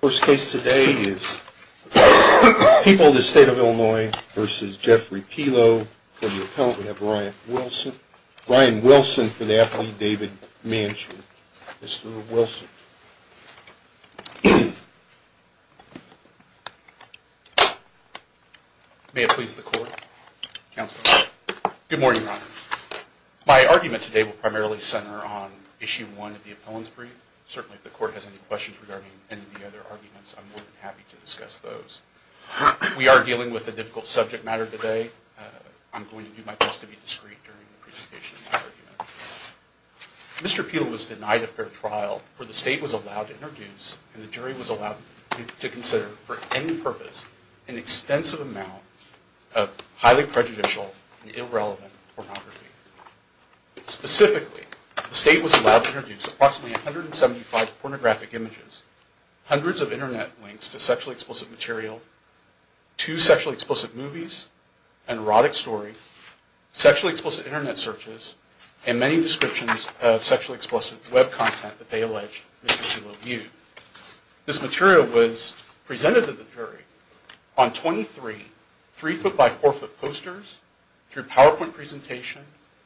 The first case today is People v. State of Illinois v. Jeffrey Pelo. For the appellant we have Brian Wilson. Brian Wilson for the athlete David Manchin. Mr. Wilson. May it please the court, counsel. Good morning, your honor. My argument today will primarily center on issue one of the appellant's brief. Certainly if the court has any questions regarding any of the other arguments, I'm more than happy to discuss those. We are dealing with a difficult subject matter today. I'm going to do my best to be discreet during the presentation of my argument. Mr. Pelo was denied a fair trial for the state was allowed to introduce and the jury was allowed to consider for any purpose an extensive amount of highly prejudicial and irrelevant pornography. Specifically, the state was allowed to introduce approximately 175 pornographic images, hundreds of internet links to sexually explicit material, two sexually explicit movies, an erotic story, sexually explicit internet searches, and many descriptions of sexually explicit web content that they alleged Mr. Pelo viewed. This material was presented to the jury on 23 three-foot by four-foot posters, through PowerPoint presentation,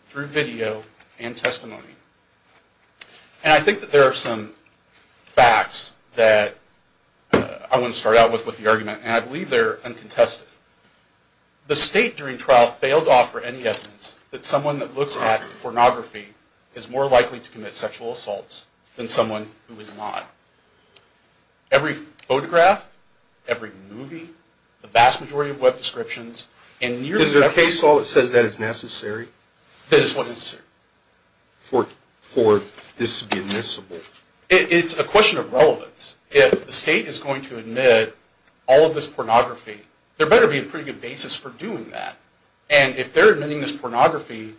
through video, and testimony. And I think that there are some facts that I want to start out with with the argument, and I believe they're uncontested. The state during trial failed to offer any evidence that someone that looks at pornography is more likely to commit sexual assaults than someone who is not. Every photograph, every movie, the vast majority of web descriptions, and nearly every... Is there a case law that says that is necessary? That is what is necessary. For this to be admissible? It's a question of relevance. If the state is going to admit all of this pornography, there better be a pretty good basis for doing that. And if they're admitting this pornography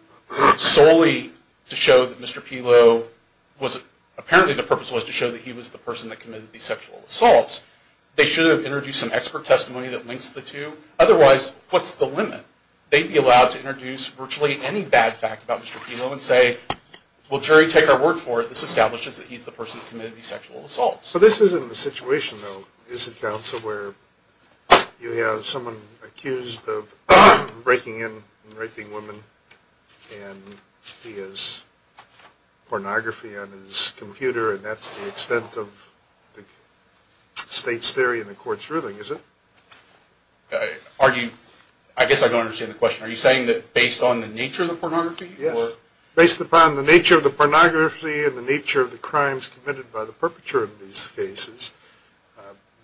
solely to show that Mr. Pelo was... Apparently the purpose was to show that he was the person that committed these sexual assaults, they should have introduced some expert testimony that links the two. Otherwise, what's the limit? They'd be allowed to introduce virtually any bad fact about Mr. Pelo and say, well, jury, take our word for it, this establishes that he's the person that committed these sexual assaults. So this isn't the situation, though, is it, counsel, where you have someone accused of breaking in and raping women and he has pornography on his computer and that's the extent of the state's theory in the court's ruling, is it? I guess I don't understand the question. Are you saying that based on the nature of the pornography? Yes. Based upon the nature of the pornography and the nature of the crimes committed by the perpetrator of these cases,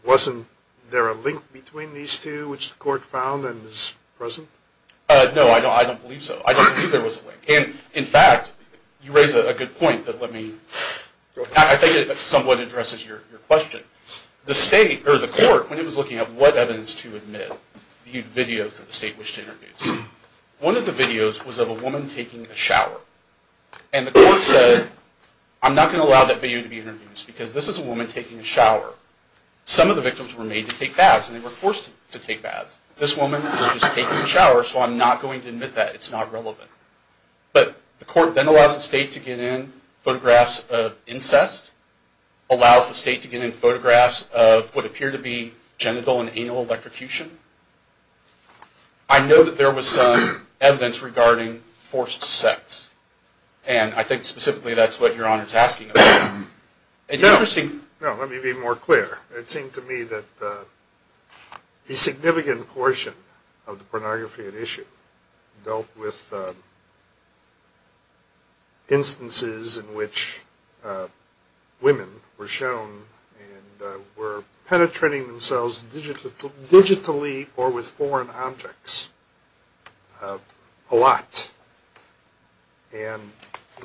wasn't there a link between these two which the court found and is present? No, I don't believe so. I don't believe there was a link. And in fact, you raise a good point that let me... I think it somewhat addresses your question. The state, or the court, when it was looking at what evidence to admit, viewed videos that the state wished to introduce. One of the videos was of a woman taking a shower. And the court said, I'm not going to allow that video to be introduced because this is a woman taking a shower. Some of the victims were made to take baths and they were forced to take baths. This woman was just taking a shower, so I'm not going to admit that. It's not relevant. But the court then allows the state to get in photographs of incest, allows the state to get in photographs of what appear to be genital and anal electrocution. I know that there was some evidence regarding forced sex. And I think specifically that's what your Honor is asking about. No, let me be more clear. It seemed to me that a significant portion of the pornography at issue dealt with instances in which women were shown and were penetrating themselves digitally or with foreign objects a lot. And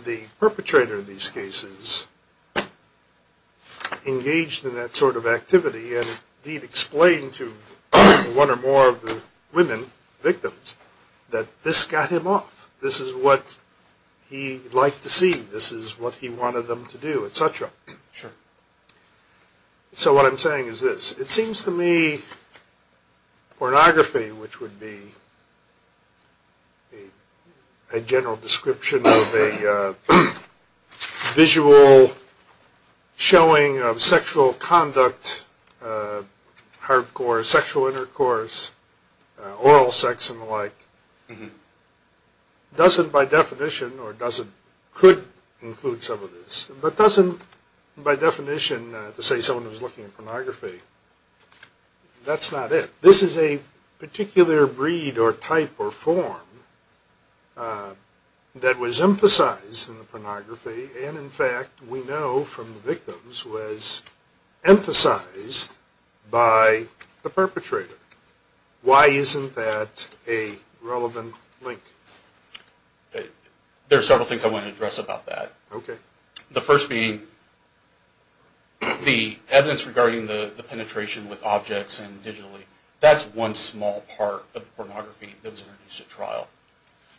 the perpetrator in these cases engaged in that sort of activity and indeed explained to one or more of the women victims that this got him off. This is what he liked to see. This is what he wanted them to do, etc. Sure. So what I'm saying is this. It seems to me pornography, which would be a general description of a visual showing of sexual conduct, hardcore sexual intercourse, oral sex and the like, doesn't by definition or doesn't, could include some of this, but doesn't by definition, to say someone was looking at pornography, that's not it. This is a particular breed or type or form that was emphasized in the pornography and in fact we know from the victims was emphasized by the perpetrator. Why isn't that a relevant link? There are several things I want to address about that. Okay. The first being the evidence regarding the penetration with objects and digitally. That's one small part of the pornography that was introduced at trial.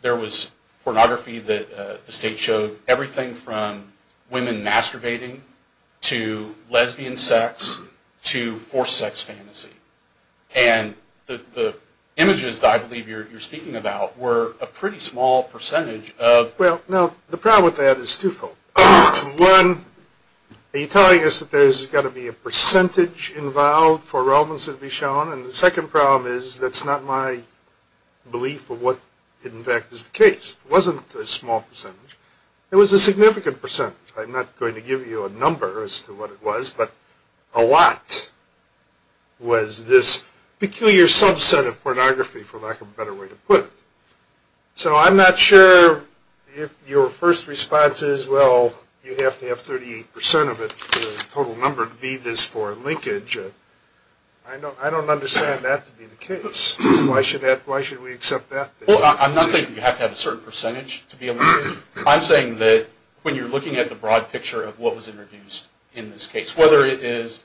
There was pornography that the state showed everything from women masturbating to lesbian sex to forced sex fantasy. And the images that I believe you're speaking about were a pretty small percentage of... Well, no, the problem with that is twofold. One, are you telling us that there's got to be a percentage involved for Romans to be shown? And the second problem is that's not my belief of what in fact is the case. It wasn't a small percentage. It was a significant percentage. I'm not going to give you a number as to what it was, but a lot was this peculiar subset of pornography for lack of a better way to put it. So I'm not sure if your first response is, well, you have to have 38% of it, the total number to be this for linkage. I don't understand that to be the case. Why should we accept that? Well, I'm not saying that you have to have a certain percentage to be a link. I'm saying that when you're looking at the broad picture of what was introduced in this case, whether it is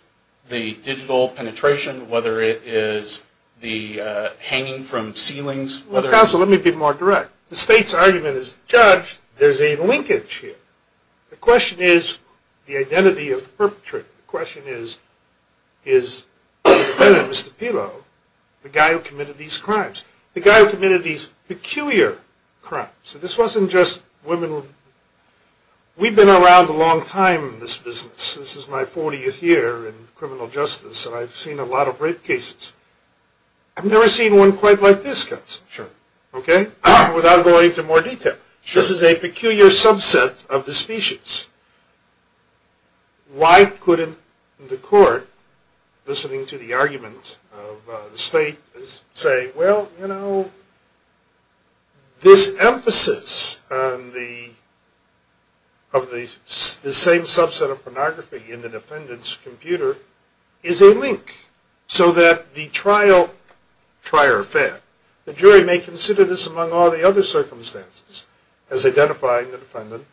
the digital penetration, whether it is the hanging from ceilings, whether it is... Counsel, let me be more direct. The state's argument is, Judge, there's a linkage here. The question is the identity of the perpetrator. The question is, is the defendant, Mr. Pelo, the guy who committed these crimes, the guy who committed these peculiar crimes? So this wasn't just women. We've been around a long time in this business. This is my 40th year in criminal justice, and I've seen a lot of rape cases. I've never seen one quite like this, Counsel, without going into more detail. This is a peculiar subset of the species. Why couldn't the court, listening to the argument of the state, say, well, you know, this emphasis of the same subset of pornography in the defendant's computer is a link, so that the trial, try or fail, the jury may consider this among all the other circumstances as identifying the defendant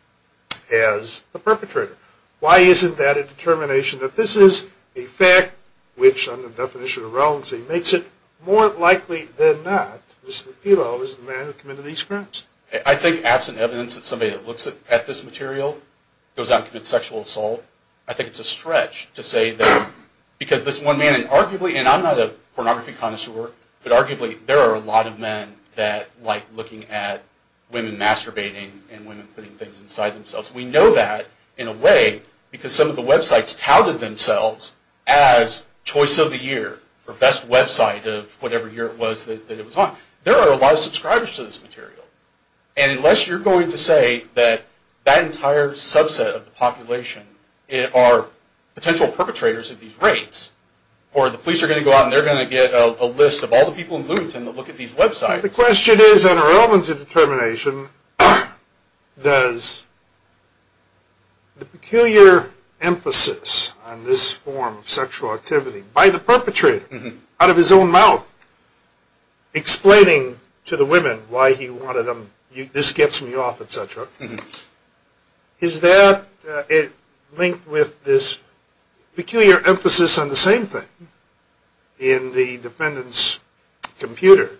as the perpetrator. Why isn't that a determination that this is a fact which, under the definition of relevancy, makes it more likely than not that Mr. Pelo is the man who committed these crimes? I think absent evidence that somebody that looks at this material goes out and commits sexual assault, I think it's a stretch to say that because this one man, and arguably, and I'm not a pornography connoisseur, but arguably, there are a lot of men that like looking at women masturbating and women putting things inside themselves. We know that, in a way, because some of the websites touted themselves as choice of the year, or best website of whatever year it was that it was on. There are a lot of subscribers to this material. And unless you're going to say that that entire subset of the population are potential perpetrators of these rapes, or the police are going to go out and they're going to get a list of all the people in Bloomington that look at these websites. The question is, on a relevancy determination, does the peculiar emphasis on this form of sexual activity by the perpetrator, out of his own mouth, explaining to the women why he wanted them, this gets me off, et cetera. Is that linked with this peculiar emphasis on the same thing in the defendant's computer?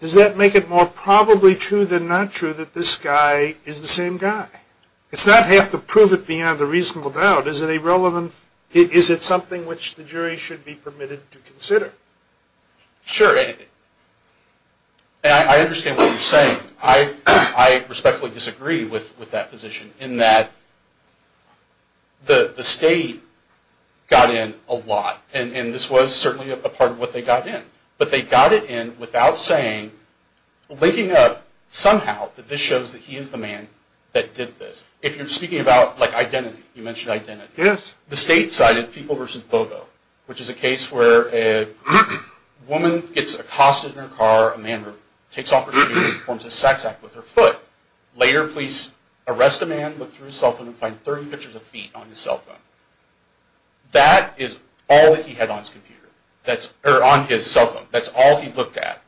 Does that make it more probably true than not true that this guy is the same guy? It's not have to prove it beyond a reasonable doubt. Is it something which the jury should be permitted to consider? Sure. I understand what you're saying. I respectfully disagree with that position in that the state got in a lot. And this was certainly a part of what they got in. But they got it in without saying, linking up somehow that this shows that he is the man that did this. If you're speaking about identity, you mentioned identity. Yes. The state cited People v. Bogo, which is a case where a woman gets accosted in her car. A man takes off her shoes and performs a sax act with her foot. Later, police arrest a man, look through his cell phone, and find 30 pictures of feet on his cell phone. That is all that he had on his cell phone. That's all he looked at.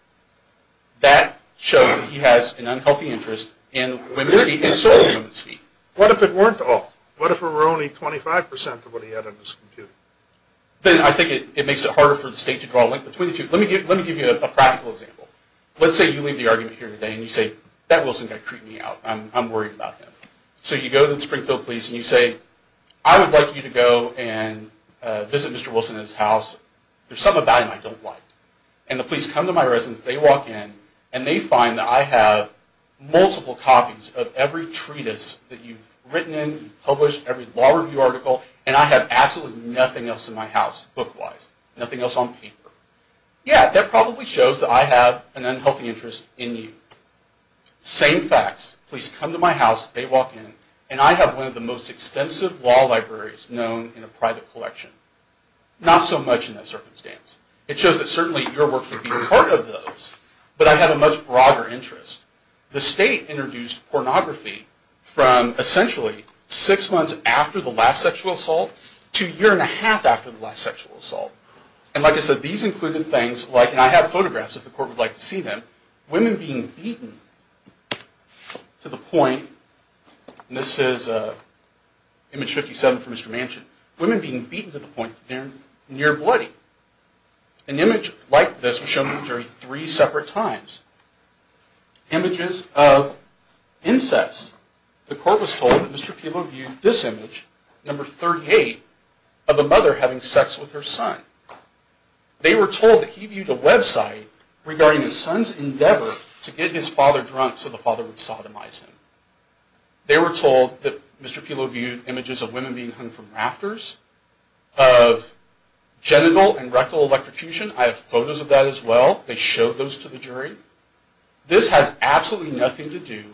That shows that he has an unhealthy interest in women's feet and stolen women's feet. What if it weren't all? What if it were only 25% of what he had on his computer? Then I think it makes it harder for the state to draw a link between the two. Let me give you a practical example. Let's say you leave the argument here today and you say, that Wilson guy creeped me out. I'm worried about him. So you go to the Springfield Police and you say, I would like you to go and visit Mr. Wilson at his house. There's something about him I don't like. And the police come to my residence, they walk in, and they find that I have multiple copies of every treatise that you've written in, published every law review article, and I have absolutely nothing else in my house, book-wise. Nothing else on paper. Yeah, that probably shows that I have an unhealthy interest in you. Same facts. Police come to my house, they walk in, and I have one of the most extensive law libraries known in a private collection. Not so much in that circumstance. It shows that certainly your work could be a part of those. But I have a much broader interest. The state introduced pornography from essentially six months after the last sexual assault to a year and a half after the last sexual assault. And like I said, these included things like, and I have photographs if the court would like to see them, women being beaten to the point, and this is image 57 from Mr. Manchin, women being beaten to the point that they're near-bloody. An image like this was shown to the jury three separate times. Images of incest. The court was told that Mr. Pilo viewed this image, number 38, of a mother having sex with her son. They were told that he viewed a website regarding his son's endeavor to get his father drunk so the father would sodomize him. They were told that Mr. Pilo viewed images of women being hung from rafters, of genital and rectal electrocution. I have photos of that as well. They showed those to the jury. This has absolutely nothing to do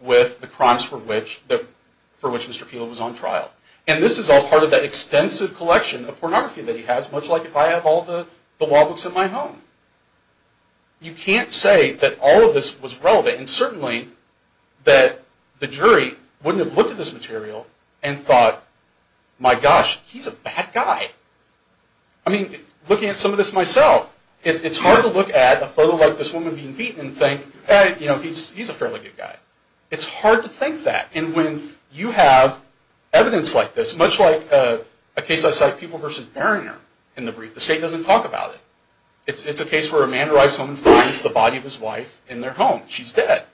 with the crimes for which Mr. Pilo was on trial. And this is all part of that extensive collection of pornography that he has, much like if I have all the law books in my home. You can't say that all of this was relevant. And certainly that the jury wouldn't have looked at this material and thought, my gosh, he's a bad guy. I mean, looking at some of this myself, it's hard to look at a photo like this woman being beaten and think, hey, you know, he's a fairly good guy. It's hard to think that. And when you have evidence like this, much like a case I cite, People v. Barriner, in the brief, the state doesn't talk about it. It's a case where a man arrives home and finds the body of his wife in their home. She's dead.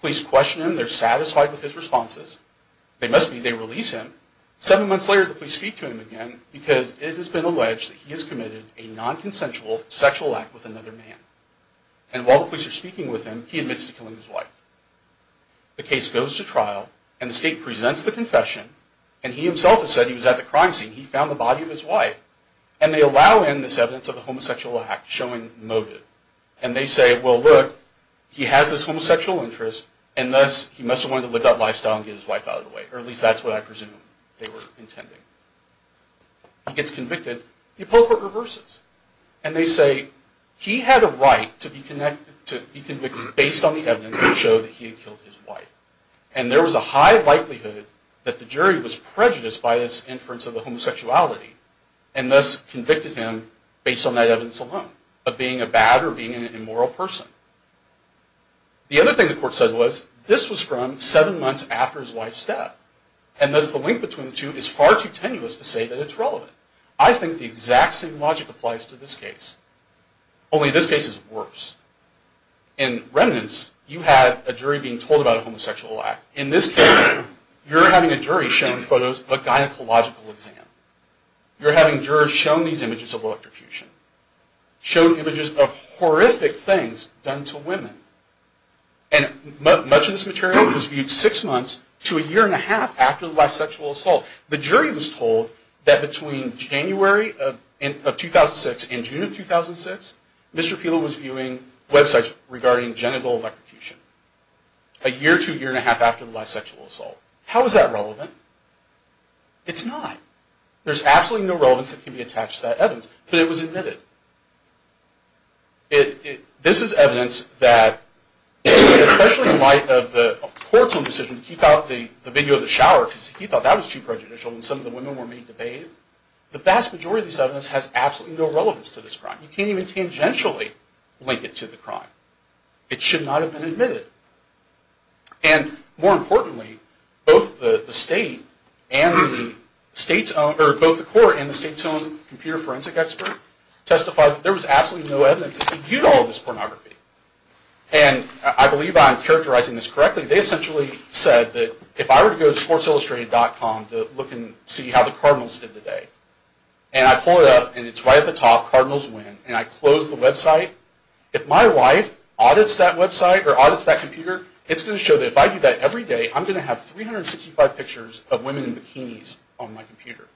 Police question him. They're satisfied with his responses. They must be. They release him. Seven months later, the police speak to him again because it has been alleged that he has committed a nonconsensual sexual act with another man. And while the police are speaking with him, he admits to killing his wife. The case goes to trial, and the state presents the confession, and he himself has said he was at the crime scene. He found the body of his wife. And they allow in this evidence of a homosexual act, showing motive. And they say, well, look, he has this homosexual interest, and thus he must have wanted to live that lifestyle and get his wife out of the way. Or at least that's what I presume they were intending. He gets convicted. The appropriate reverses. And they say he had a right to be convicted based on the evidence that showed that he had killed his wife. And there was a high likelihood that the jury was prejudiced by this inference of the homosexuality, and thus convicted him based on that evidence alone, of being a bad or being an immoral person. The other thing the court said was, this was from seven months after his wife's death. And thus the link between the two is far too tenuous to say that it's relevant. I think the exact same logic applies to this case. Only this case is worse. In Remnants, you have a jury being told about a homosexual act. In this case, you're having a jury showing photos of a gynecological exam. You're having jurors showing these images of electrocution. Showing images of horrific things done to women. And much of this material was viewed six months to a year and a half after the last sexual assault. The jury was told that between January of 2006 and June of 2006, Mr. Pila was viewing websites regarding genital electrocution. A year to a year and a half after the last sexual assault. How is that relevant? It's not. There's absolutely no relevance that can be attached to that evidence. But it was admitted. This is evidence that, especially in light of the court's own decision to keep out the video of the shower, because he thought that was too prejudicial and some of the women were made to bathe, the vast majority of this evidence has absolutely no relevance to this crime. You can't even tangentially link it to the crime. It should not have been admitted. And more importantly, both the state and the state's own, or both the court and the state's own computer forensic expert, testified that there was absolutely no evidence to compute all of this pornography. And I believe I'm characterizing this correctly. They essentially said that if I were to go to sportsillustrated.com to look and see how the Cardinals did today, and I pull it up and it's right at the top, Cardinals win, and I close the website, if my wife audits that website, or audits that computer, it's going to show that if I do that every day, I'm going to have 365 pictures of women in bikinis on my computer.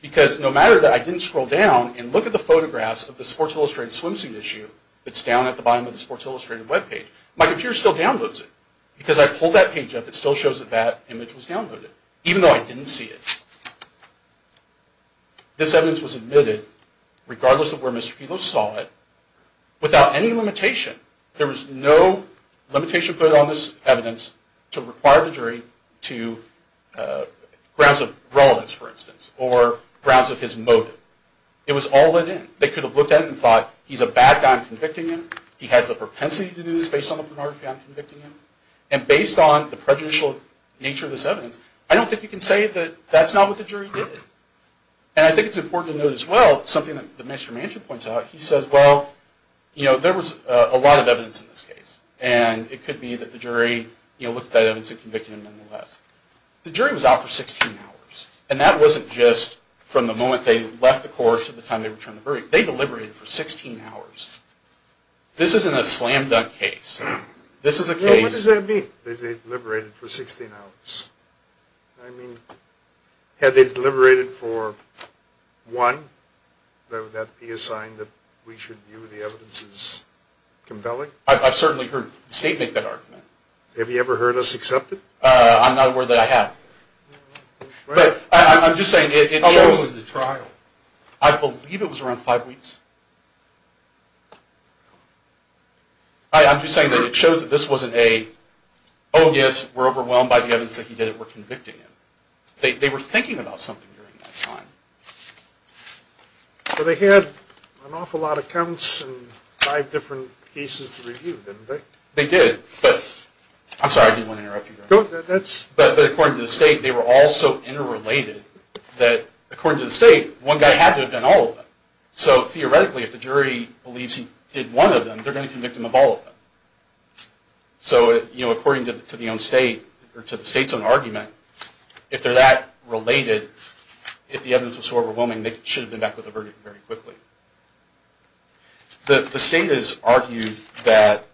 Because no matter that I didn't scroll down and look at the photographs of the Sports Illustrated swimsuit issue that's down at the bottom of the Sports Illustrated webpage, my computer still downloads it. Because I pull that page up, it still shows that that image was downloaded, even though I didn't see it. This evidence was admitted, regardless of where Mr. Kelo saw it, without any limitation. There was no limitation put on this evidence to require the jury to... grounds of relevance, for instance, or grounds of his motive. It was all let in. They could have looked at it and thought, he's a bad guy, I'm convicting him. He has the propensity to do this based on the pornography, I'm convicting him. And based on the prejudicial nature of this evidence, I don't think you can say that that's not what the jury did. And I think it's important to note as well, something that Mr. Manchin points out, he says, well, there was a lot of evidence in this case. And it could be that the jury looked at that evidence and convicted him nonetheless. The jury was out for 16 hours. And that wasn't just from the moment they left the court to the time they returned the verdict. They deliberated for 16 hours. This isn't a slam-dunk case. What does that mean, that they deliberated for 16 hours? I mean, had they deliberated for one, would that be a sign that we should view the evidence as compelling? I've certainly heard the state make that argument. Have you ever heard us accept it? I'm not aware that I have. But I'm just saying it shows... How long was the trial? I believe it was around five weeks. I'm just saying that it shows that this wasn't a, oh, yes, we're overwhelmed by the evidence that he did it, we're convicting him. They were thinking about something during that time. Well, they had an awful lot of counts and five different cases to review, didn't they? They did, but... I'm sorry, I didn't want to interrupt you there. But according to the state, they were all so interrelated that, according to the state, one guy had to have done all of them. So, theoretically, if the jury believes he did one of them, they're going to convict him of all of them. So, according to the state's own argument, if they're that related, if the evidence was so overwhelming, they should have been back with a verdict very quickly. The state has argued that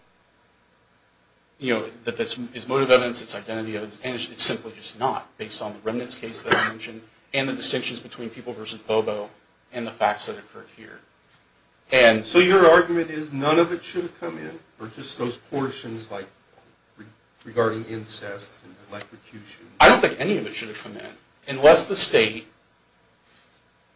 it's motive evidence, it's identity evidence, and it's simply just not, based on the remnants case that I mentioned and the distinctions between people versus Bobo and the facts that occurred here. So your argument is none of it should have come in, or just those portions regarding incest and electrocution? I don't think any of it should have come in, unless the state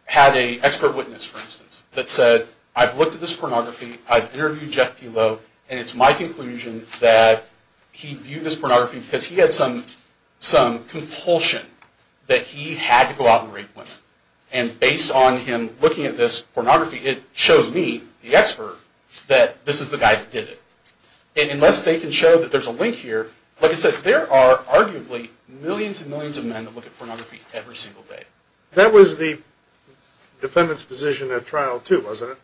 had an expert witness, for instance, that said, I've looked at this pornography, I've interviewed Jeff Pelot, and it's my conclusion that he viewed this pornography because he had some compulsion that he had to go out and rape women. And based on him looking at this pornography, it shows me, the expert, that this is the guy that did it. And unless they can show that there's a link here, like I said, there are arguably millions and millions of men that look at pornography every single day. That was the defendant's position at trial too, wasn't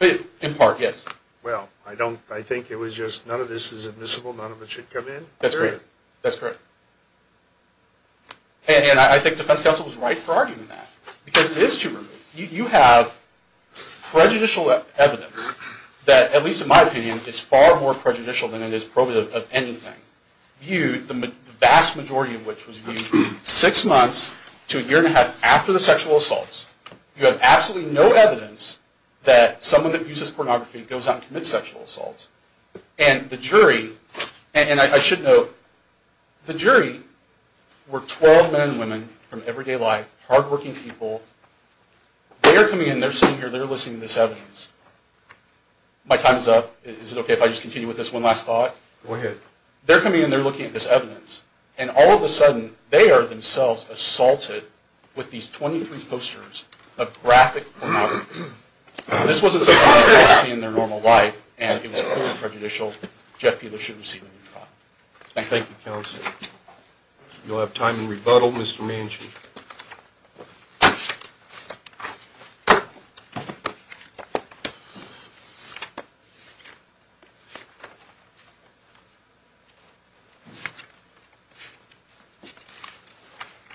it? In part, yes. Well, I think it was just, none of this is admissible, none of it should come in? That's correct. And I think defense counsel was right for arguing that. Because it is too early. You have prejudicial evidence that, at least in my opinion, is far more prejudicial than it is probative of anything. The vast majority of which was viewed six months to a year and a half after the sexual assaults. You have absolutely no evidence that someone that views this pornography goes out and commits sexual assaults. And the jury, and I should note, the jury were 12 men and women from everyday life, hardworking people. They are coming in, they're sitting here, they're listening to this evidence. My time is up. Is it okay if I just continue with this one last thought? Go ahead. They're coming in, they're looking at this evidence, and all of a sudden they are themselves assaulted with these 23 posters of graphic pornography. This wasn't something that they would see in their normal life, and it was clearly prejudicial. Jeff, you should receive a new trial. Thank you, counsel. You'll have time to rebuttal, Mr. Manchin.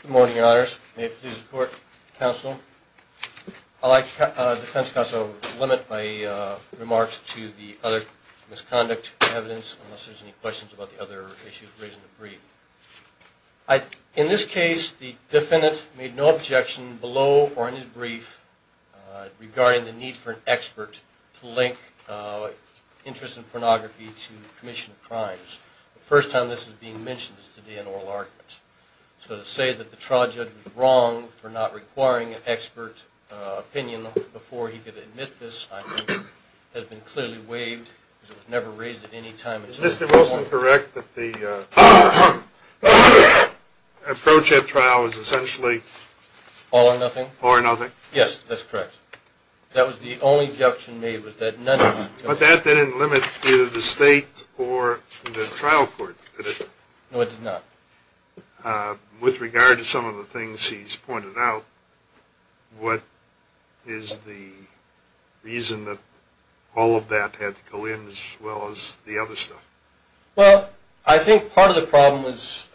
Good morning, your honors. May it please the court, counsel. I'd like defense counsel to limit my remarks to the other misconduct evidence, unless there's any questions about the other issues raised in the brief. In this case, the defendant made no objection below or in his brief regarding the need for an expert to link interest in pornography to commission of crimes. The first time this is being mentioned is today in oral argument. So to say that the trial judge was wrong for not requiring an expert opinion before he could admit this, I think, has been clearly waived because it was never raised at any time before. Is Mr. Wilson correct that the approach at trial is essentially all or nothing? All or nothing. Yes, that's correct. That was the only objection made was that none of it was. But that didn't limit either the state or the trial court, did it? No, it did not. With regard to some of the things he's pointed out, what is the reason that all of that had to go in as well as the other stuff? Well, I think part of the problem was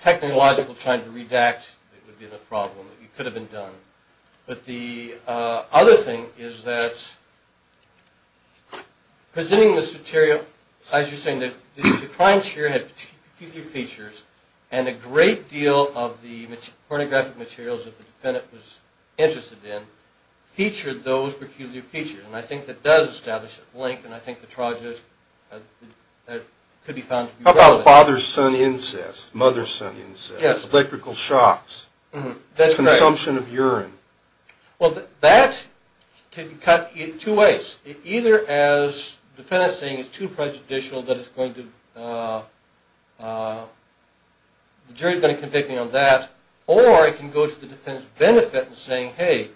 technological trying to redact. That would be the problem. It could have been done. But the other thing is that presenting this material, as you're saying, the crime sphere had a few new features, and a great deal of the pornographic materials that the defendant was interested in featured those peculiar features. And I think that does establish a link, and I think the trial judge could be found to be relevant. How about father-son incest, mother-son incest, electrical shocks, consumption of urine? Well, that could be cut in two ways. Either as the defendant is saying it's too prejudicial that it's going to... Or it can go to the defense benefit in saying, hey,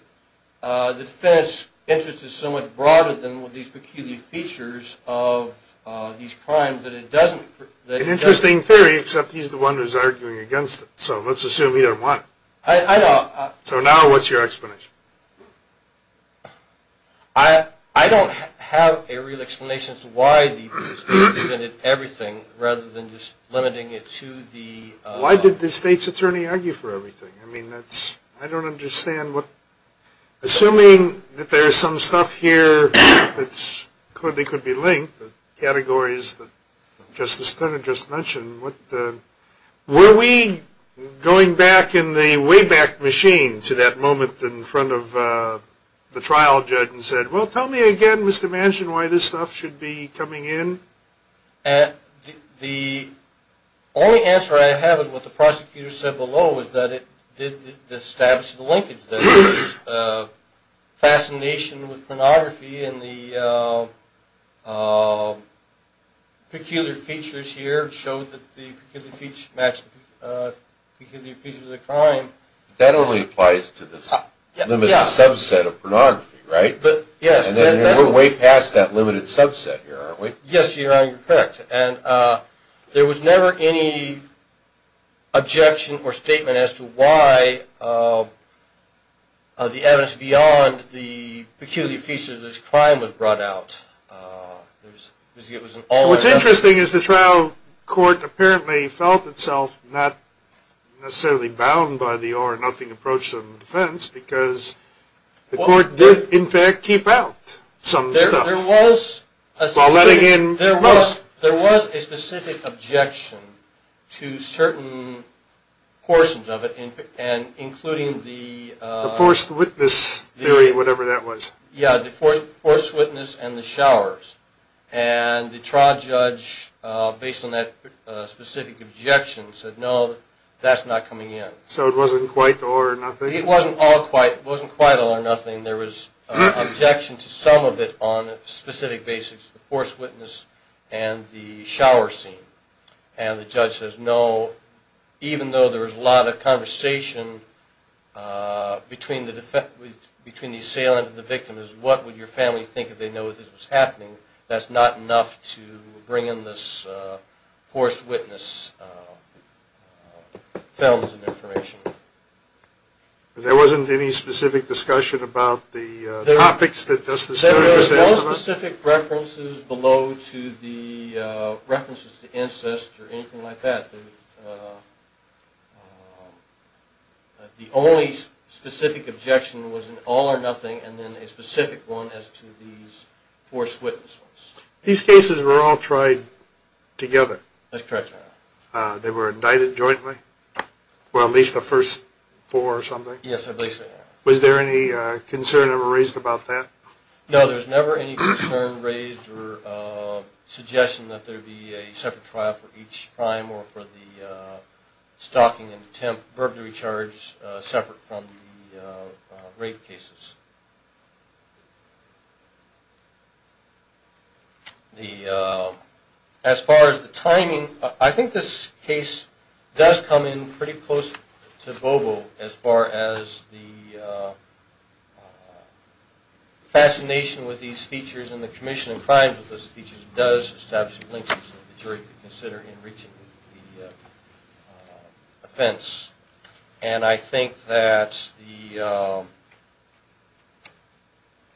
the defense interest is so much broader than these peculiar features of these crimes that it doesn't... An interesting theory, except he's the one who's arguing against it. So let's assume he didn't want it. I know. So now what's your explanation? I don't have a real explanation as to why the defense benefited everything rather than just limiting it to the... Why did the state's attorney argue for everything? I mean, that's... I don't understand what... Assuming that there's some stuff here that clearly could be linked, the categories that Justice Stoner just mentioned, were we going back in the wayback machine to that moment in front of the trial judge and said, well, tell me again, Mr. Manchin, The only answer I have for that is, What the prosecutor said below is that it didn't establish the linkage. The fascination with pornography and the peculiar features here showed that the peculiar features matched the peculiar features of the crime. That only applies to this limited subset of pornography, right? Yes. And we're way past that limited subset here, aren't we? Yes, Your Honor, you're correct. And there was never any objection or statement as to why the evidence beyond the peculiar features of this crime was brought out. What's interesting is the trial court apparently felt itself not necessarily bound by the or nothing approach to the defense because the court did, in fact, keep out some stuff. There was a specific objection to certain portions of it, including the forced witness theory, whatever that was. Yeah, the forced witness and the showers. And the trial judge, based on that specific objection, said, no, that's not coming in. So it wasn't quite or nothing? It wasn't quite or nothing. There was objection to some of it on specific basics, the forced witness and the shower scene. And the judge says, no, even though there was a lot of conversation between the assailant and the victim, is what would your family think if they know this was happening? That's not enough to bring in this forced witness films and information. There wasn't any specific discussion about the topics? There were no specific references below to the references to incest or anything like that. The only specific objection was an all or nothing and then a specific one as to these forced witness ones. That's correct, Your Honor. And then there was a case where they were indicted jointly? Well, at least the first four or something? Yes, I believe so, Your Honor. Was there any concern ever raised about that? No, there was never any concern raised or suggestion that there would be a separate trial for each crime or for the stalking and attempt, verbally charged separate from the rape cases. As far as the timing, I think this case does come in pretty close to Bobo as far as the fascination with these features and the commission of crimes with these features does establish a link that the jury could consider in reaching the offense.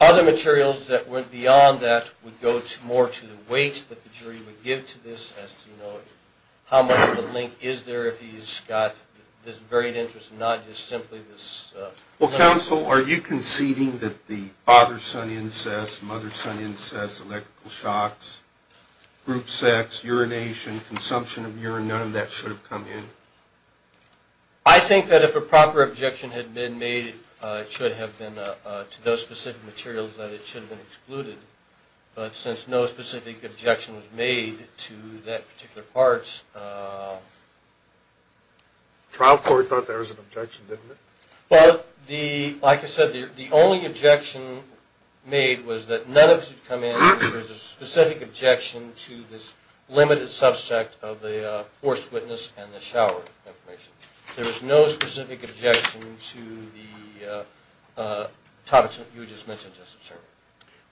Other materials that went beyond that would go more to the weight that the jury would give to this as to how much of a link is there if he's got this varied interest and not just simply this... Well, counsel, are you conceding that the father-son incest, mother-son incest, electrical shocks, group sex, urination, consumption of urine, none of that should have come in? I think that if a proper objection had been made, it should have been to those specific materials that it should have been excluded, but since no specific objection was made to that particular part... The trial court thought there was an objection, didn't it? Well, like I said, the only objection made was that none of it should come in because there was a specific objection to this limited subset of the forced witness and the shower information. There was no specific objection to the topics that you just mentioned.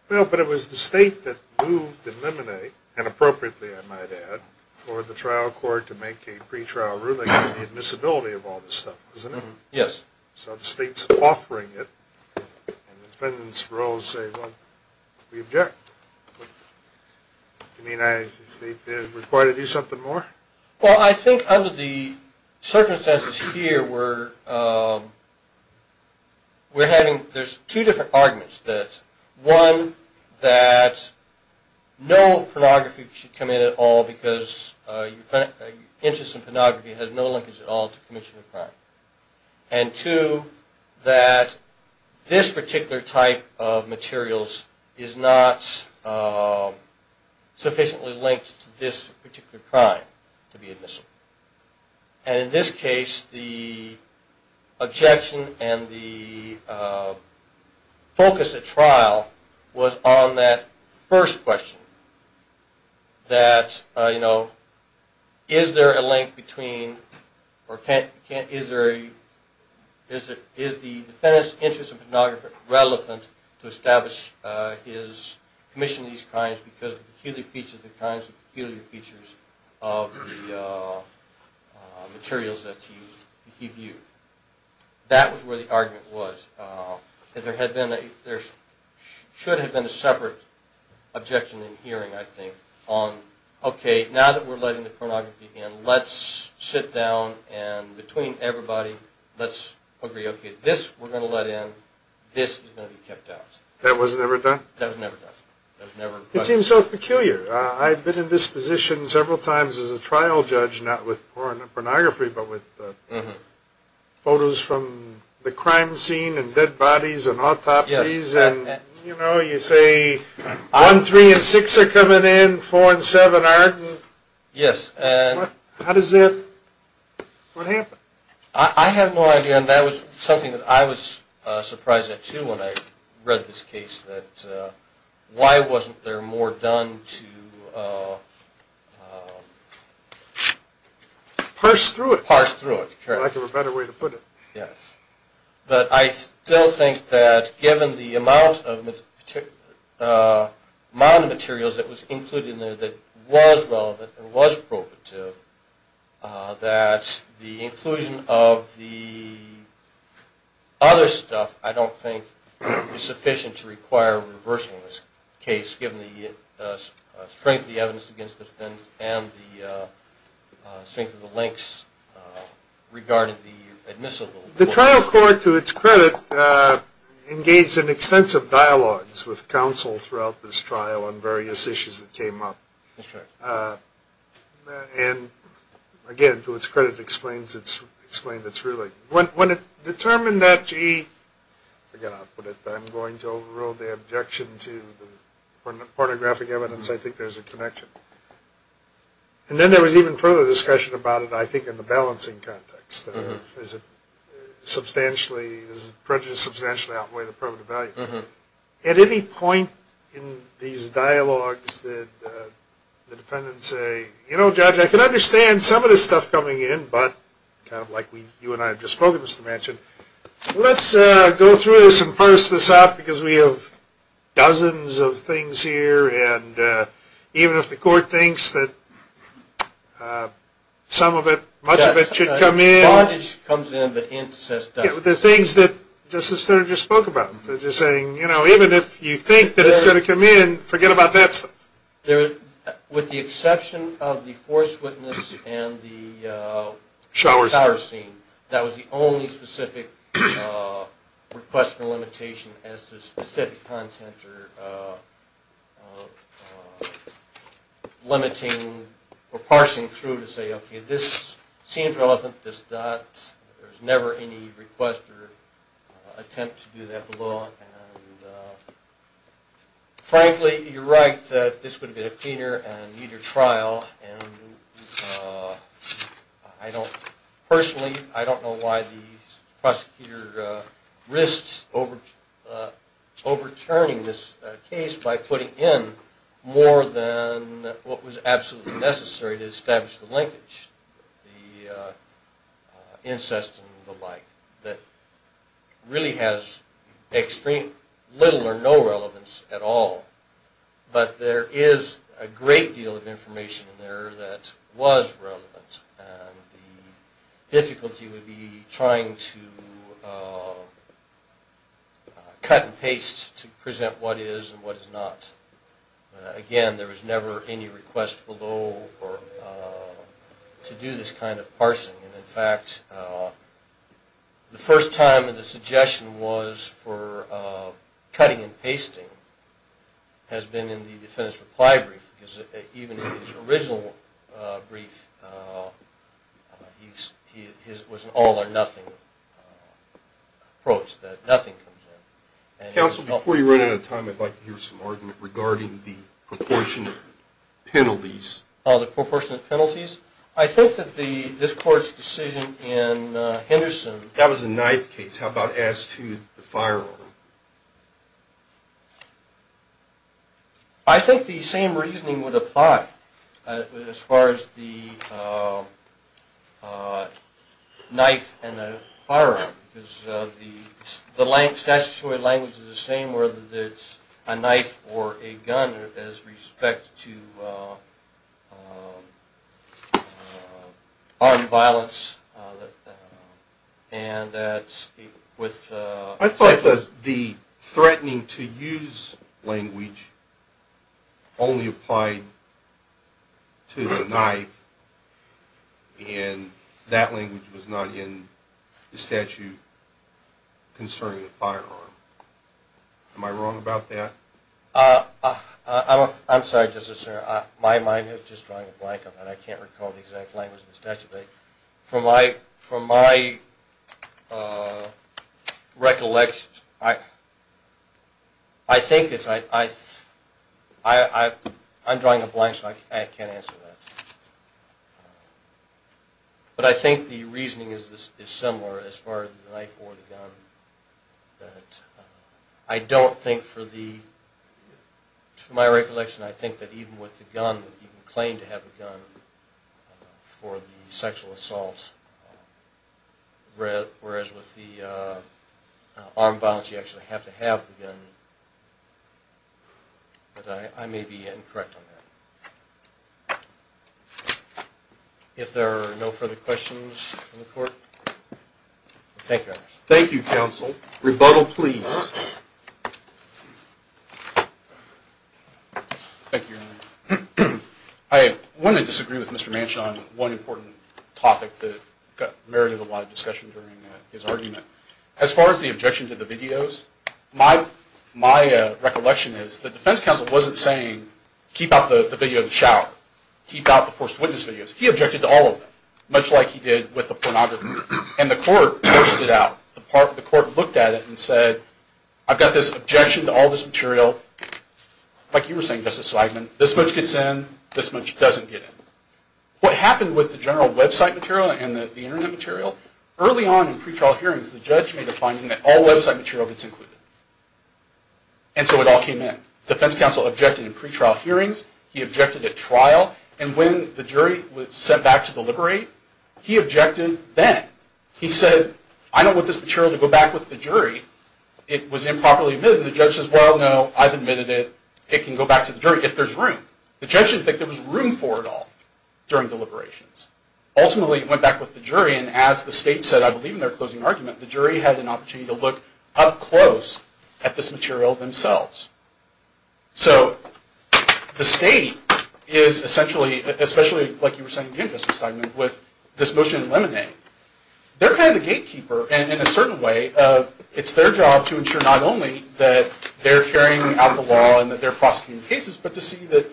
Well, but it was the state that moved the limine, and appropriately I might add, for the trial court to make a pre-trial ruling on the admissibility of all this stuff, wasn't it? Yes. So the state's offering it, and the defendant's role is to say, well, we object. Do you mean they required to do something more? Well, I think under the circumstances here, there's two different arguments. One, that no pornography should come in at all because interest in pornography has no linkage at all to commission of crime. And two, that this particular type of materials is not sufficiently linked to this particular crime. And in this case, the objection and the focus at trial was on that first question. That, you know, is there a link between, or is the defendant's interest in pornography relevant to establish his commission of these crimes because of the peculiar features of the materials that he viewed? That was where the argument was. There should have been a separate objection in hearing, I think, on, okay, now that we're letting the pornography in, let's sit down and between everybody, let's agree, okay, this we're going to let in, this is going to be kept out. That was never done? That was never done. It seems so peculiar. I've been in this position several times as a trial judge, not with pornography, but with photos from the crime scene and dead bodies and autopsies and, you know, you say one, three and six are coming in, four and seven aren't. Yes. How does that, what happened? I have no idea, and that was something that I was surprised at too when I read this case, that why wasn't there more done to parse through it. I'd like to have a better way to put it. But I still think that given the amount of materials that was included in there that was relevant and was probative, that the inclusion of the other stuff I don't think is sufficient to require a reversal in this case, given the strength of the evidence against this and the strength of the links regarding the admissible. The trial court, to its credit, engaged in extensive dialogues with counsel throughout this trial on various issues that came up. And again, to its credit, explains its ruling. When it determined that, gee, I'm going to overrule the objection to the pornographic evidence, I think there's a connection. And then there was even further discussion about it, I think, in the balancing context. Does prejudice substantially outweigh the probative value? At any point in these dialogues did the defendant say, You know, Judge, I can understand some of this stuff coming in, but, kind of like you and I have just spoken, Mr. Manchin, let's go through this and parse this out because we have dozens of things here and even if the court thinks that some of it, much of it, should come in. Part of it comes in, but the hint says dozens. The things that Justice Stearns just spoke about. So just saying, you know, even if you think that it's going to come in, forget about that stuff. With the exception of the force witness and the shower scene, that was the only specific request for limitation as to specific content or limiting or parsing through to say, Okay, this seems relevant. There's never any request or attempt to do that below. Frankly, you're right that this would have been a cleaner and neater trial. Personally, I don't know why the prosecutor risks overturning this case by putting in more than what was absolutely necessary to establish the linkage, the incest and the like that really has extreme, little or no relevance at all. But there is a great deal of information in there that was relevant and the difficulty would be trying to cut and paste to present what is and what is not. Again, there was never any request below to do this kind of parsing. In fact, the first time the suggestion was for cutting and pasting has been in the defendant's reply brief because even his original brief was an all or nothing approach, that nothing comes in. Counsel, before you run out of time, I'd like to hear some argument regarding the proportionate penalties. Oh, the proportionate penalties? I think that this court's decision in Henderson, that was a knife case. How about as to the firearm? I think the same reasoning would apply as far as the knife and the firearm because the statutory language is the same whether it's a knife or a gun as respect to armed violence. I thought that the threatening to use language only applied to the knife and that language was not in the statute concerning the firearm. Am I wrong about that? I'm sorry, just a second. My mind is just drawing a blank on that. I can't recall the exact language in the statute, but from my recollection I think it's I'm drawing a blank so I can't answer that. But I think the reasoning is similar as far as the knife or the gun. I don't think for the from my recollection I think that even with the gun you can claim to have a gun for the sexual assault whereas with the armed violence you actually have to have the gun. But I may be incorrect on that. If there are no further questions from the court thank you. Thank you counsel. Rebuttal please. Thank you Your Honor. I want to disagree with Mr. Manchin on one important topic that married a lot of discussion during his argument. As far as the objection to the videos my recollection is the defense counsel wasn't saying keep out the video of the shower. Keep out the forced witness videos. He objected to all of them. Much like he did with the pornography. And the court forced it out. The court looked at it and said I've got this objection to all this material like you were saying Justice Swigman, this much gets in, this much doesn't get in. What happened with the general website material and the internet material? Early on in pretrial hearings the judge made a finding that all website material gets included. And so it all came in. The defense counsel objected in pretrial hearings. He objected at trial and when the jury was sent back to deliberate he objected then. He said I don't want this material to go back with the jury. It was improperly admitted. The judge says well no, I've admitted it. It can go back to the jury if there's room. The judge didn't think there was room for it all during deliberations. Ultimately it went back with the jury and as the state said I believe in their closing argument the jury had an opportunity to look up close at this material themselves. So the state is essentially especially like you were saying again Justice Swigman with this motion in Lemonade. They're kind of the gatekeeper in a certain way. It's their job to ensure not only that they're carrying out the law and that they're prosecuting the cases, but to see that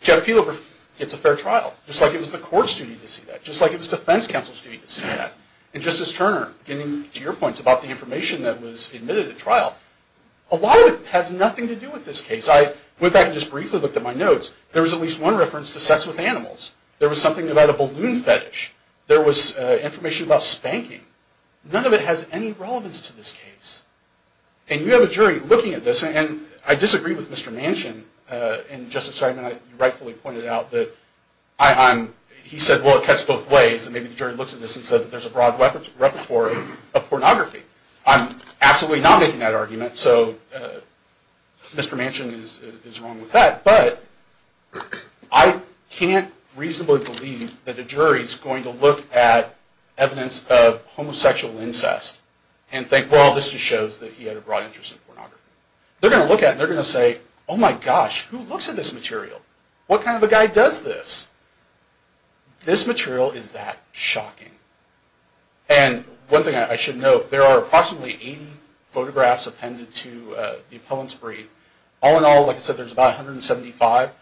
Jeff Pelo gets a fair trial. Just like it was the court's duty to see that. Just like it was defense counsel's duty to see that. And Justice Turner getting to your points about the information that was admitted at trial a lot of it has nothing to do with this case. I went back and just briefly looked at my notes. There was at least one reference to sex with animals. There was something about a balloon fetish. There was information about spanking. None of it has any relevance to this case. And you have a jury looking at this and I disagree with Mr. Manchin and Justice Swigman rightfully pointed out that he said well it cuts both ways and maybe the jury looks at this and says there's a broad repertory of pornography. I'm absolutely not making that argument so Mr. Manchin is wrong with that but I can't reasonably believe that a jury is going to look at evidence of homosexual incest and think well this just shows that he had a broad interest in pornography. They're going to look at it and they're going to say oh my gosh who looks at this material? What kind of a guy does this? This material is that shocking. And one thing I should note there are approximately 80 photographs appended to the appellant's brief. All in all like I said there's about 175.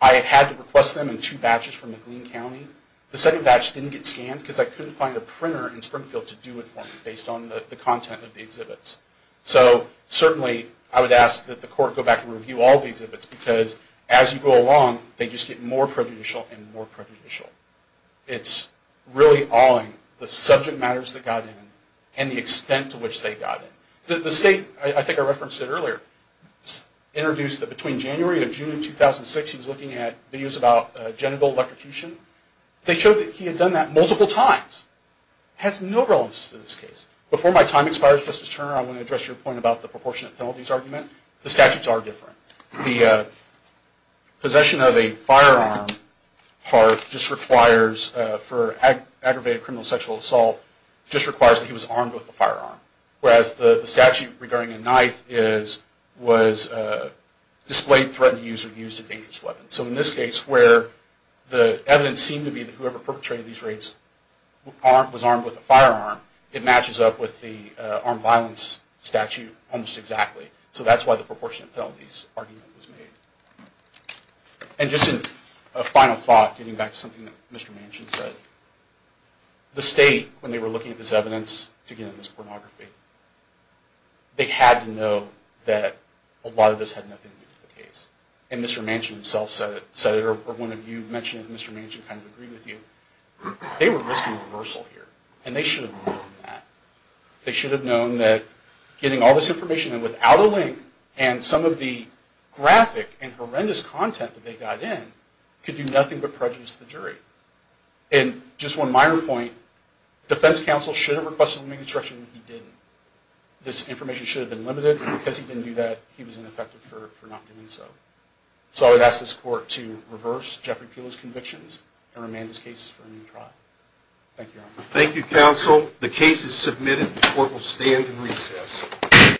I had to request them in two batches from McLean County. The second batch didn't get scanned because I couldn't find a printer in Springfield to do it for me based on the content of the exhibits. So certainly I would ask that the court go back and review all the exhibits because as you go along they just get more prejudicial and more prejudicial. It's really awing the subject matters that got in and the extent to which they got in. The state, I think I referenced it earlier, introduced that between January and June 2006 he was looking at videos about genital electrocution. They showed that he had done that multiple times. It has no relevance to this case. Before my time expires Justice Turner I want to address your point about the proportionate penalties argument. The statutes are different. The possession of a firearm part just requires for aggravated criminal sexual assault just requires that he was armed with a firearm. Whereas the statute regarding a knife is was displayed, threatened to use a dangerous weapon. So in this case where the evidence seemed to be that whoever perpetrated these rapes was armed with a firearm, it matches up with the armed violence statute almost exactly. So that's why the proportionate penalties argument was made. And just a final thought getting back to something that Mr. Manchin said. The state when they were looking at this evidence to get into this pornography they had to know that a lot of this had nothing to do with the case. And Mr. Manchin himself said it or one of you mentioned it and Mr. Manchin kind of agreed with you. They were risking reversal here. And they should have known that. They should have known that getting all this information and without a link and some of the graphic and horrendous content that they got in could do nothing but prejudice to the jury. And just one minor point. Defense counsel should have requested the reconstruction but he didn't. This information should have been limited and because he didn't do that he was ineffective for not doing so. So I would ask this court to reverse Jeffrey Peele's convictions and remand his case for a new trial. Thank you. Thank you counsel. The case is submitted. The court will stand and recess.